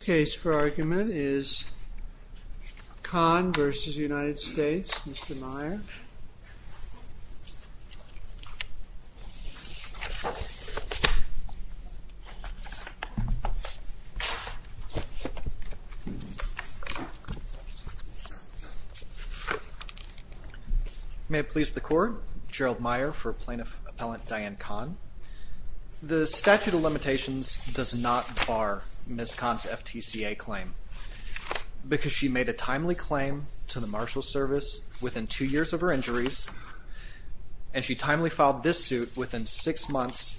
The case for argument is Khan v. United States. Mr. Meyer. May it please the Court. Gerald Meyer for Plaintiff Appellant Dianne Khan. The statute of limitations does not bar Ms. Khan's FTCA claim because she made a timely claim to the Marshals Service within two years of her injuries, and she timely filed this suit within six months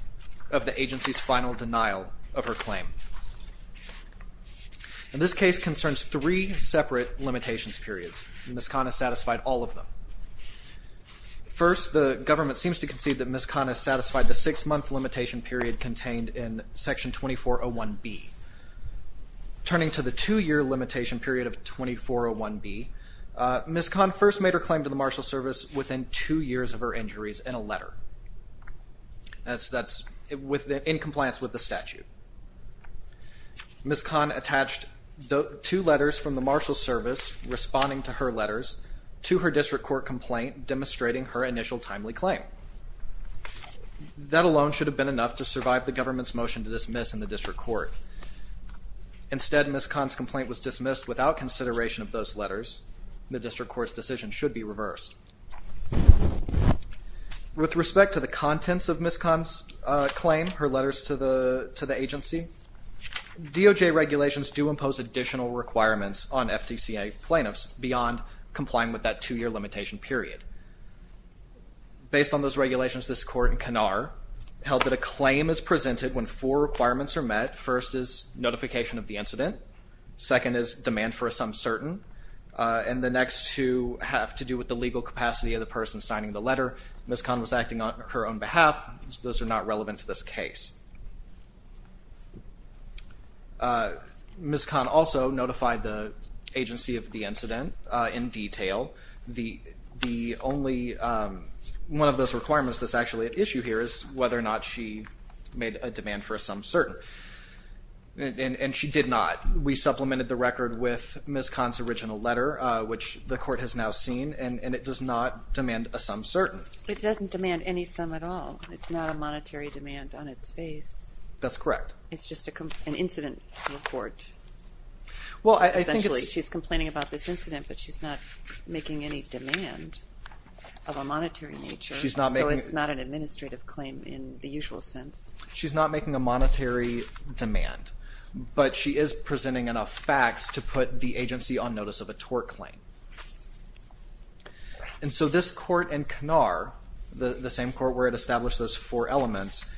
of the agency's final denial of her claim. This case concerns three separate limitations periods. Ms. Khan has satisfied all of them. First, the government seems to concede that Ms. Khan has satisfied the six-month limitation period contained in Section 2401B. Turning to the two-year limitation period of 2401B, Ms. Khan first made her claim to the Marshals Service within two years of her injuries in a letter. That's in compliance with the statute. Ms. Khan attached two letters from the Marshals Service responding to her letters to her district court complaint demonstrating her initial timely claim. That alone should have been enough to survive the government's motion to dismiss in the district court. Instead, Ms. Khan's complaint was dismissed without consideration of those letters. The district court's decision should be reversed. With respect to the contents of Ms. Khan's claim, her letters to the agency, DOJ regulations do impose additional requirements on FTCA plaintiffs beyond complying with that two-year limitation period. Based on those regulations, this court in Kanar held that a claim is presented when four requirements are met. First is notification of the incident. Second is demand for a sum certain. And the next two have to do with the legal capacity of the person signing the letter. Ms. Khan was acting on her own behalf, so those are not relevant to this case. Ms. Khan also notified the agency of the incident in detail. One of those requirements that's actually at issue here is whether or not she made a demand for a sum certain. And she did not. We supplemented the record with Ms. Khan's original letter, which the court has now seen, and it does not demand a sum certain. It doesn't demand any sum at all. It's not a monetary demand on its face. That's correct. It's just an incident report. Essentially, she's complaining about this incident, but she's not making any demand of a monetary nature, so it's not an administrative claim in the usual sense. She's not making a monetary demand, but she is presenting enough facts to put the agency on notice of a tort claim. And so this court in Kanar, the same court where it established those four elements,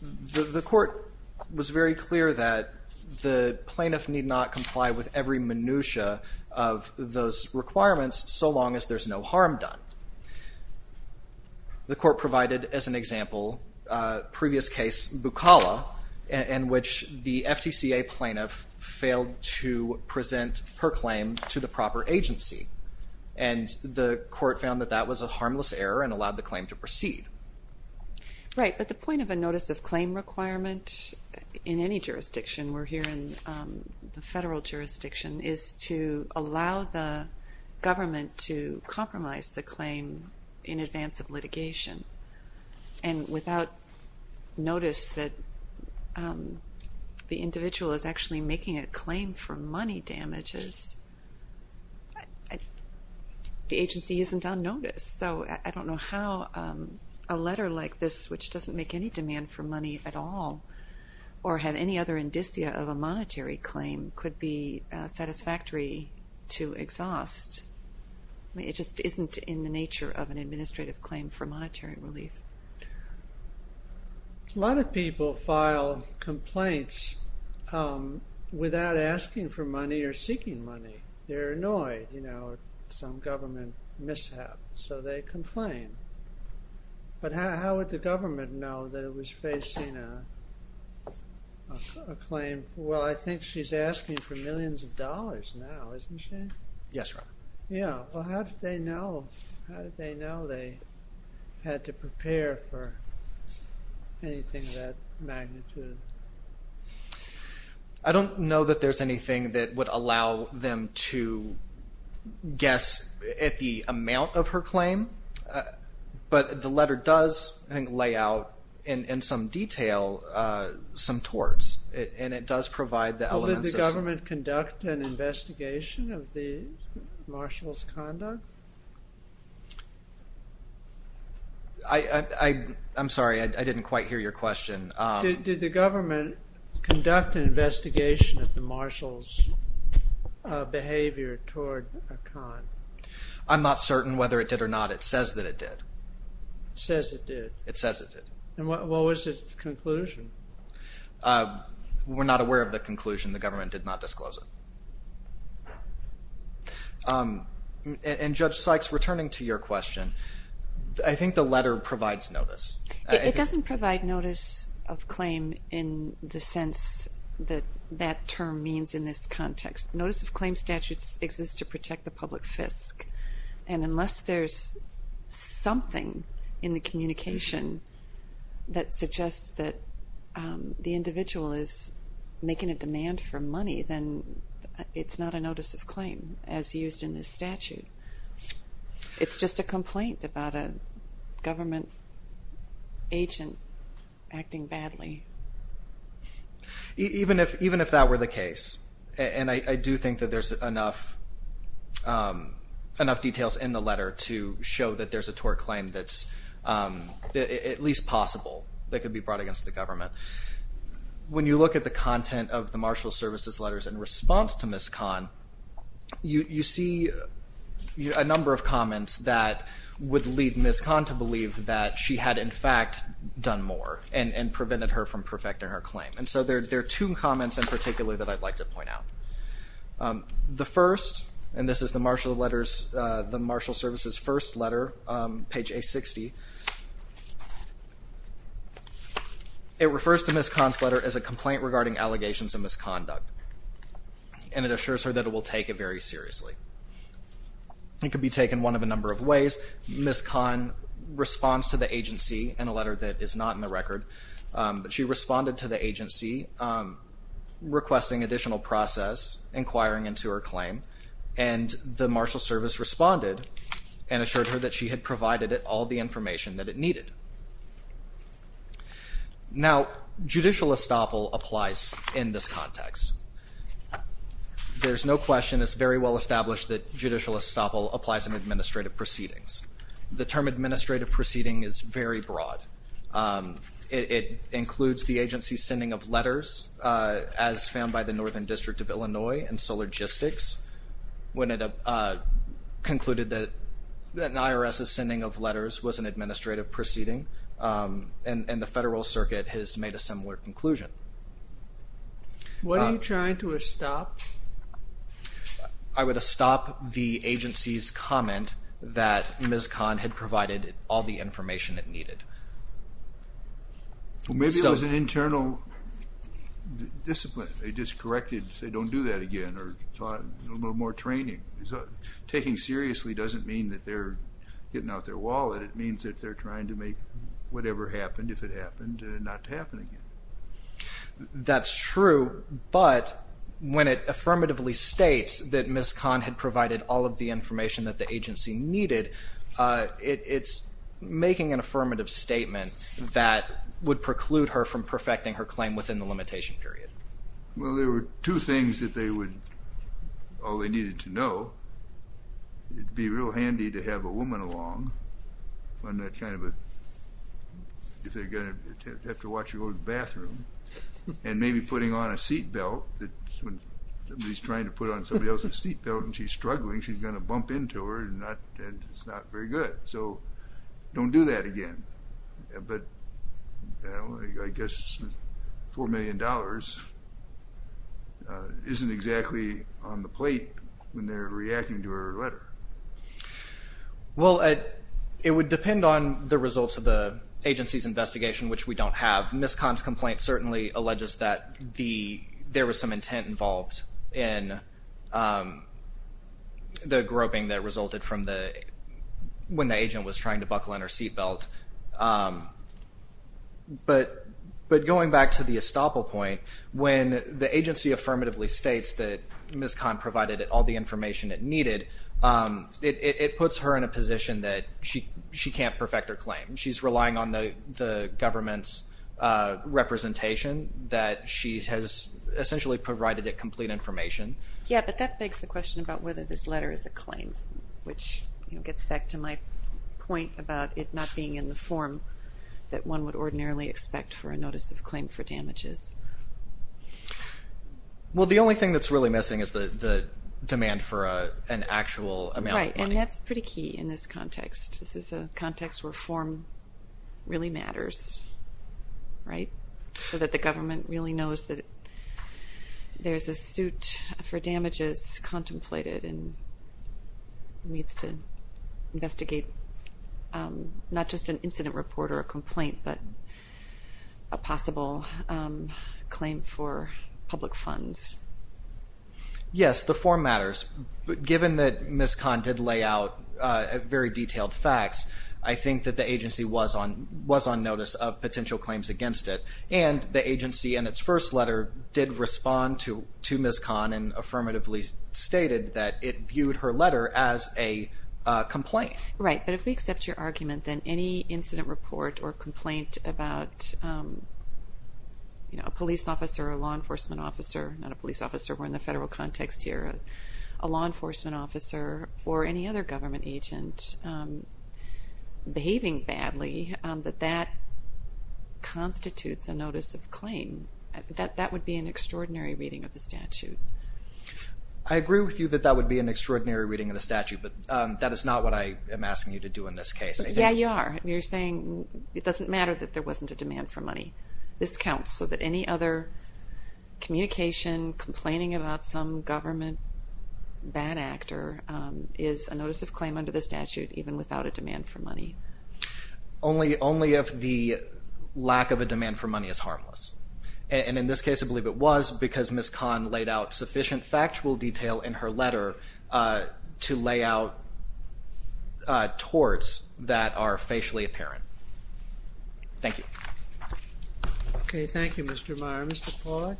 the court was very clear that the plaintiff need not comply with every minutia of those requirements so long as there's no harm done. The court provided, as an example, a previous case, Bukala, in which the FTCA plaintiff failed to present her claim to the proper agency. And the court found that that was a harmless error and allowed the claim to proceed. Right, but the point of a notice of claim requirement in any jurisdiction, we're here in the federal jurisdiction, is to allow the government to compromise the claim in advance of litigation. And without notice that the individual is actually making a claim for money damages, the agency isn't on notice. So I don't know how a letter like this, which doesn't make any demand for money at all, or have any other indicia of a monetary claim could be satisfactory to exhaust. It just isn't in the nature of an administrative claim for monetary relief. A lot of people file complaints without asking for money or seeking money. They're annoyed, you know, some government mishap, so they complain. But how would the government know that it was facing a claim? Well, I think she's asking for millions of dollars now, isn't she? Yes, Your Honor. Well, how did they know they had to prepare for anything of that magnitude? I don't know that there's anything that would allow them to guess at the amount of her claim. But the letter does, I think, lay out in some detail some torts. And it does provide the elements of... Well, did the government conduct an investigation of the marshal's conduct? I'm sorry, I didn't quite hear your question. Did the government conduct an investigation of the marshal's behavior toward Khan? I'm not certain whether it did or not. It says that it did. It says it did? It says it did. And what was its conclusion? We're not aware of the conclusion. The government did not disclose it. And Judge Sykes, returning to your question, I think the letter provides notice. It doesn't provide notice of claim in the sense that that term means in this context. Notice of claim statutes exist to protect the public fisc. And unless there's something in the communication that suggests that the individual is making a demand for money, then it's not a notice of claim as used in this statute. It's just a complaint about a government agent acting badly. Even if that were the case, and I do think that there's enough details in the letter to show that there's a tort claim that's at least possible that could be brought against the government. When you look at the content of the marshal's services letters in response to Ms. Khan, you see a number of comments that would lead Ms. Khan to believe that she had in fact done more and prevented her from perfecting her claim. And so there are two comments in particular that I'd like to point out. The first, and this is the marshal's letters, the marshal's services first letter, page A60. It refers to Ms. Khan's letter as a complaint regarding allegations of misconduct. And it assures her that it will take it very seriously. It could be taken one of a number of ways. Ms. Khan responds to the agency in a letter that is not in the record. But she responded to the agency requesting additional process, inquiring into her claim. And the marshal's service responded and assured her that she had provided it all the information that it needed. Now, judicial estoppel applies in this context. There's no question. It's very well established that judicial estoppel applies in administrative proceedings. The term administrative proceeding is very broad. It includes the agency's sending of letters as found by the Northern District of Illinois and Sologistics when it concluded that an IRS's sending of letters was an administrative proceeding. And the Federal Circuit has made a similar conclusion. What are you trying to estop? I would estop the agency's comment that Ms. Khan had provided all the information it needed. Maybe it was an internal discipline. They just corrected, say, don't do that again or taught a little more training. Taking seriously doesn't mean that they're getting out their wallet. It means that they're trying to make whatever happened, if it happened, not to happen again. That's true. But when it affirmatively states that Ms. Khan had provided all of the information that the agency needed, it's making an affirmative statement that would preclude her from perfecting her claim within the limitation period. Well, there were two things that they would, all they needed to know. It'd be real handy to have a woman along on that kind of a, if they're going to have to watch you go to the bathroom, and maybe putting on a seat belt that when somebody's trying to put on somebody else's seat belt and she's struggling, she's going to bump into her and it's not very good. So don't do that again. But I guess $4 million isn't exactly on the plate when they're reacting to her letter. Well, it would depend on the results of the agency's investigation, which we don't have. Ms. Khan's complaint certainly alleges that there was some intent involved in the groping that resulted from the, when the agent was trying to buckle in her seat belt. But going back to the estoppel point, when the agency affirmatively states that Ms. Khan provided all the information it needed, it puts her in a position that she can't perfect her claim. She's relying on the government's representation that she has essentially provided it complete information. Yeah, but that begs the question about whether this letter is a claim, which gets back to my point about it not being in the form that one would ordinarily expect for a notice of claim for damages. Well, the only thing that's really missing is the demand for an actual amount of money. Right, and that's pretty key in this context. This is a context where form really matters, right? So that the government really knows that there's a suit for damages contemplated and needs to investigate not just an incident report or a complaint, but a possible claim for public funds. Yes, the form matters, but given that Ms. Khan did lay out very detailed facts, I think that the agency was on notice of potential claims against it. And the agency in its first letter did respond to Ms. Khan and affirmatively stated that it viewed her letter as a complaint. Right, but if we accept your argument, then any incident report or complaint about, you know, a police officer or a law enforcement officer, not a police officer, we're in the federal context here, a law enforcement officer or any other government agent behaving badly, that that constitutes a notice of claim. That would be an extraordinary reading of the statute. I agree with you that that would be an extraordinary reading of the statute, but that is not what I am asking you to do in this case. Yeah, you are. You're saying it doesn't matter that there wasn't a demand for money. This counts so that any other communication, complaining about some government bad actor is a notice of claim under the statute, even without a demand for money. Only if the lack of a demand for money is harmless. And in this case, I believe it was because Ms. Khan laid out sufficient factual detail in her letter to lay out torts that are facially apparent. Thank you. Okay, thank you, Mr. Meyer. Mr. Pollack.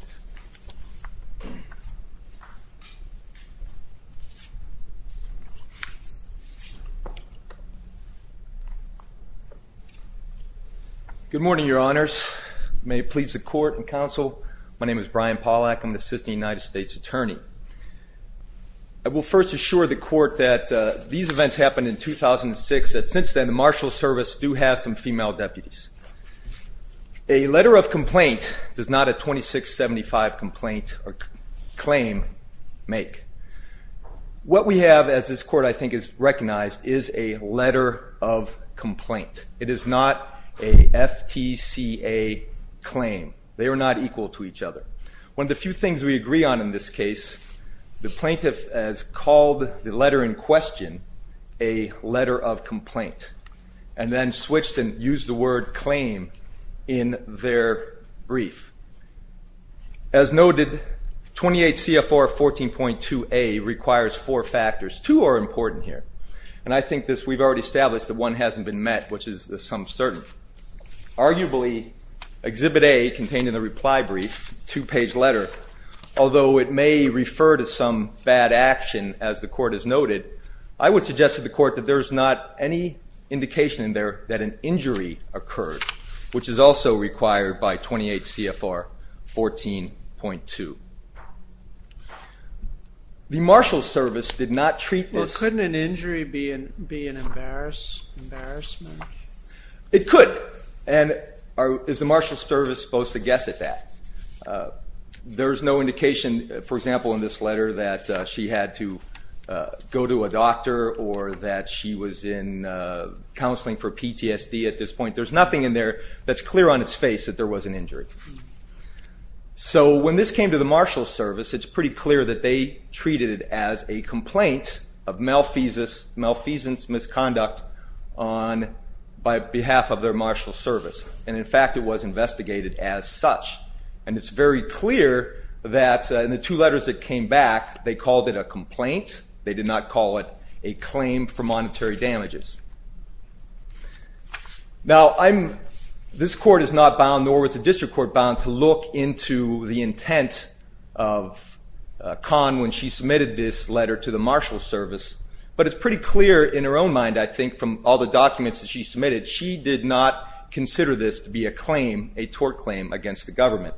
Good morning, your honors. May it please the court and counsel, my name is Brian Pollack. I'm the assistant United States attorney. I will first assure the court that these events happened in 2006, that since then the Marshals Service do have some female deputies. A letter of complaint does not a 2675 complaint or claim make. What we have as this court I think is recognized is a letter of complaint. It is not a FTCA claim. They are not equal to each other. One of the few things we agree on in this case, the plaintiff has called the letter in question a letter of complaint and then switched and used the word claim in their brief. As noted, 28 CFR 14.2A requires four factors. Two are important here. And I think we've already established that one hasn't been met, which is the sum of certain. Arguably, exhibit A contained in the reply brief, two-page letter, although it may refer to some bad action as the court has noted, I would suggest to the court that there is not any indication in there that an injury occurred, which is also required by 28 CFR 14.2. The Marshals Service did not treat this. Well, couldn't an injury be an embarrassment? It could. And is the Marshals Service supposed to guess at that? There's no indication, for example, in this letter that she had to go to a doctor or that she was in counseling for PTSD at this point. There's nothing in there that's clear on its face that there was an injury. So when this came to the Marshals Service, it's pretty clear that they treated it as a complaint of malfeasance, misconduct on behalf of their Marshals Service. And in fact, it was investigated as such. And it's very clear that in the two letters that came back, they called it a complaint. They did not call it a claim for monetary damages. Now, this court is not bound, nor was the district court bound, to look into the intent of Kahn when she submitted this letter to the Marshals Service. But it's pretty clear in her own mind, I think, from all the documents that she submitted, she did not consider this to be a claim, a tort claim, against the government.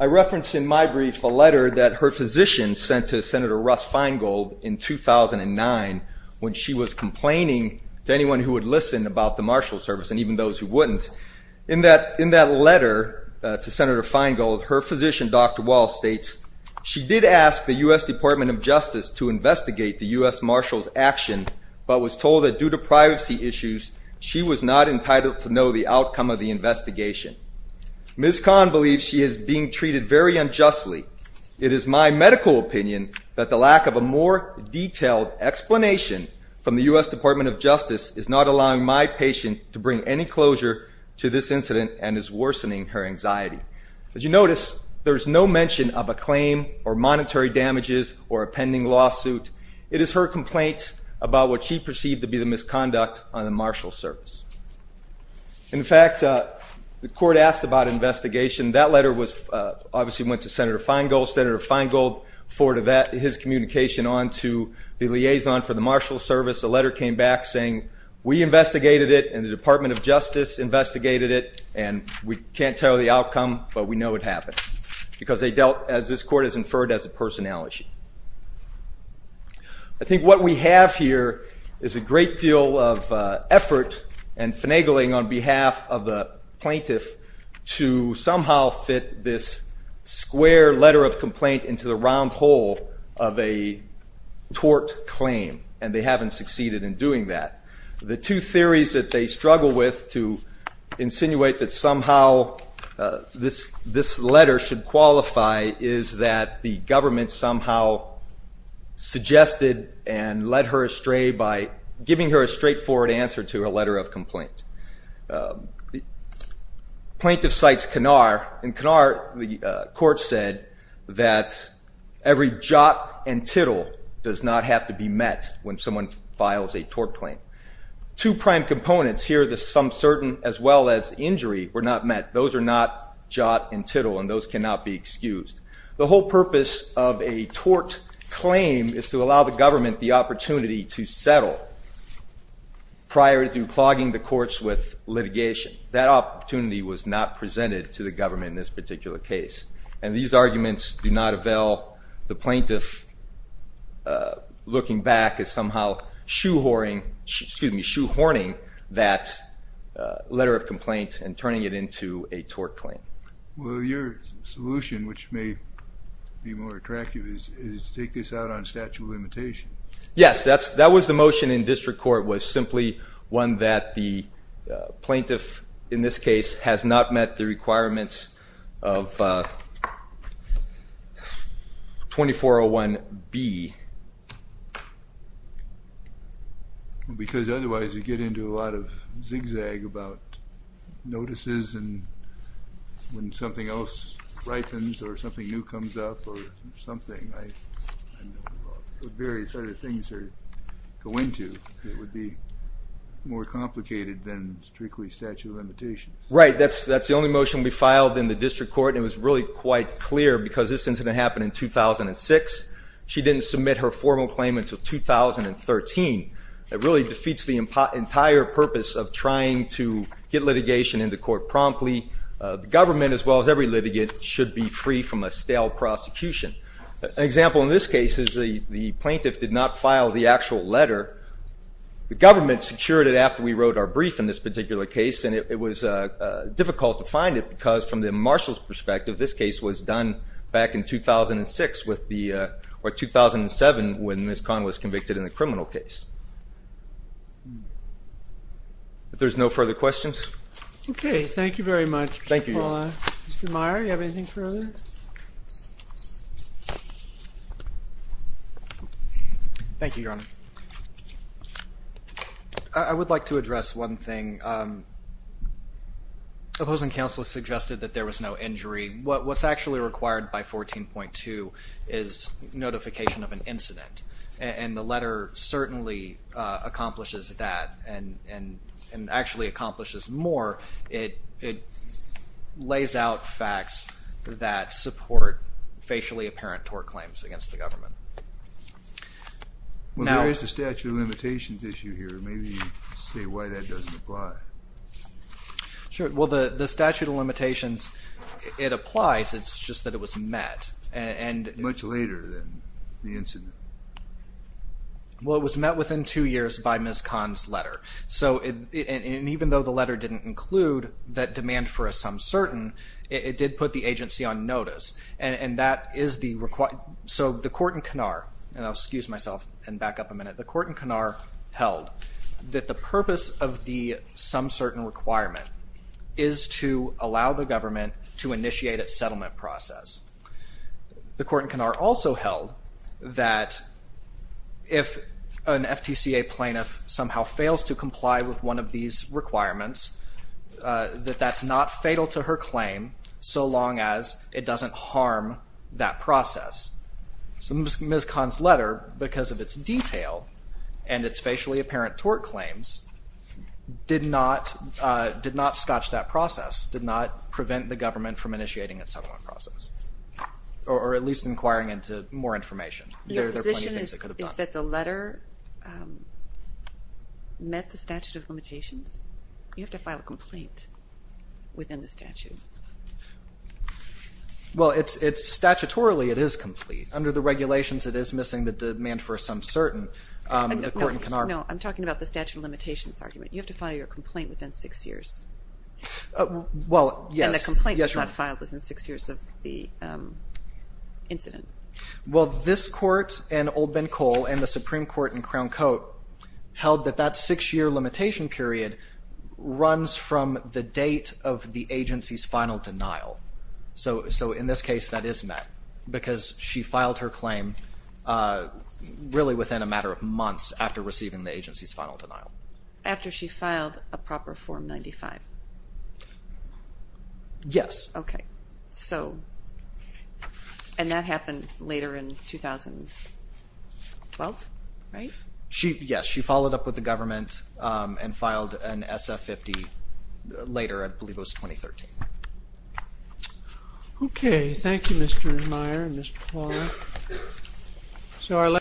I referenced in my brief a letter that her physician sent to Senator Russ Feingold in 2009 when she was complaining to anyone who would listen about the Marshals Service, and even those who wouldn't. In that letter to Senator Feingold, her physician, Dr. Wall, states, she did ask the U.S. Department of Justice to investigate the U.S. Marshals' action, but was told that due to privacy issues, she was not entitled to know the outcome of the investigation. Ms. Kahn believes she is being treated very unjustly. It is my medical opinion that the lack of a more detailed explanation from the U.S. Department of Justice is not allowing my patient to bring any closure to this incident and is worsening her anxiety. As you notice, there is no mention of a claim or monetary damages or a pending lawsuit. It is her complaint about what she perceived to be the misconduct on the Marshals Service. In fact, the court asked about investigation. That letter obviously went to Senator Feingold. Senator Feingold forwarded his communication on to the liaison for the Marshals Service. The letter came back saying, we investigated it, and the Department of Justice investigated it, and we can't tell the outcome, but we know it happened, because they dealt, as this court has inferred, as a personality. I think what we have here is a great deal of effort and finagling on behalf of the plaintiff to somehow fit this square letter of complaint into the round hole of a tort claim, and they haven't succeeded in doing that. The two theories that they struggle with to insinuate that somehow this letter should qualify is that the government somehow suggested and led her astray by giving her a straightforward answer to her letter of complaint. Plaintiff cites Kinnar, and Kinnar, the court said, that every jot and tittle does not have to be met when someone files a tort claim. Two prime components here, the some certain as well as injury, were not met. Those are not jot and tittle, and those cannot be excused. The whole purpose of a tort claim is to allow the government the opportunity to settle prior to clogging the courts with litigation. That opportunity was not presented to the government in this particular case, and these arguments do not avail the plaintiff looking back as somehow shoehorning that letter of complaint and turning it into a tort claim. Well, your solution, which may be more attractive, is to take this out on statute of limitations. Yes, that was the motion in district court, was simply one that the plaintiff in this case has not met the requirements of 2401B. Well, because otherwise you get into a lot of zigzag about notices and when something else ripens or something new comes up or something. Various other things go into it. It would be more complicated than strictly statute of limitations. Right, that's the only motion we filed in the district court, and it was really quite clear because this incident happened in 2006. She didn't submit her formal claim until 2013. It really defeats the entire purpose of trying to get litigation into court promptly. The government, as well as every litigant, should be free from a stale prosecution. An example in this case is the plaintiff did not file the actual letter. The government secured it after we wrote our brief in this particular case, and it was difficult to find it because, from the marshal's perspective, this case was done back in 2006 or 2007 when Ms. Kahn was convicted in the criminal case. If there's no further questions. Okay, thank you very much. Thank you, Your Honor. Mr. Meyer, do you have anything further? Thank you, Your Honor. I would like to address one thing. Opposing counsel suggested that there was no injury. What's actually required by 14.2 is notification of an incident, and the letter certainly accomplishes that and actually accomplishes more. It lays out facts that support facially apparent tort claims against the government. Well, there is a statute of limitations issue here. Maybe you could say why that doesn't apply. Sure. Well, the statute of limitations, it applies. It's just that it was met. Much later than the incident. Well, it was met within two years by Ms. Kahn's letter, and even though the letter didn't include that demand for a some certain, it did put the agency on notice, and that is the requirement. So the court in Kanar, and I'll excuse myself and back up a minute. The court in Kanar held that the purpose of the some certain requirement is to allow the government to initiate its settlement process. The court in Kanar also held that if an FTCA plaintiff somehow fails to comply with one of these requirements, that that's not fatal to her claim so long as it doesn't harm that process. So Ms. Kahn's letter, because of its detail and its facially apparent tort claims, did not scotch that process, did not prevent the government from initiating its settlement process, or at least inquiring into more information. Your position is that the letter met the statute of limitations? You have to file a complaint within the statute. Well, statutorily it is complete. Under the regulations it is missing the demand for a some certain. No, I'm talking about the statute of limitations argument. You have to file your complaint within six years. Well, yes. And the complaint was not filed within six years of the incident. Well, this court and Old Ben Cole and the Supreme Court in Crown Coat held that that six-year limitation period runs from the date of the agency's final denial. So in this case that is met because she filed her claim really within a matter of months after receiving the agency's final denial. After she filed a proper Form 95? Yes. Okay. So, and that happened later in 2012, right? Yes, she followed up with the government and filed an SF-50 later, I believe it was 2013. Okay. Thank you, Mr. Meier and Ms. Paul.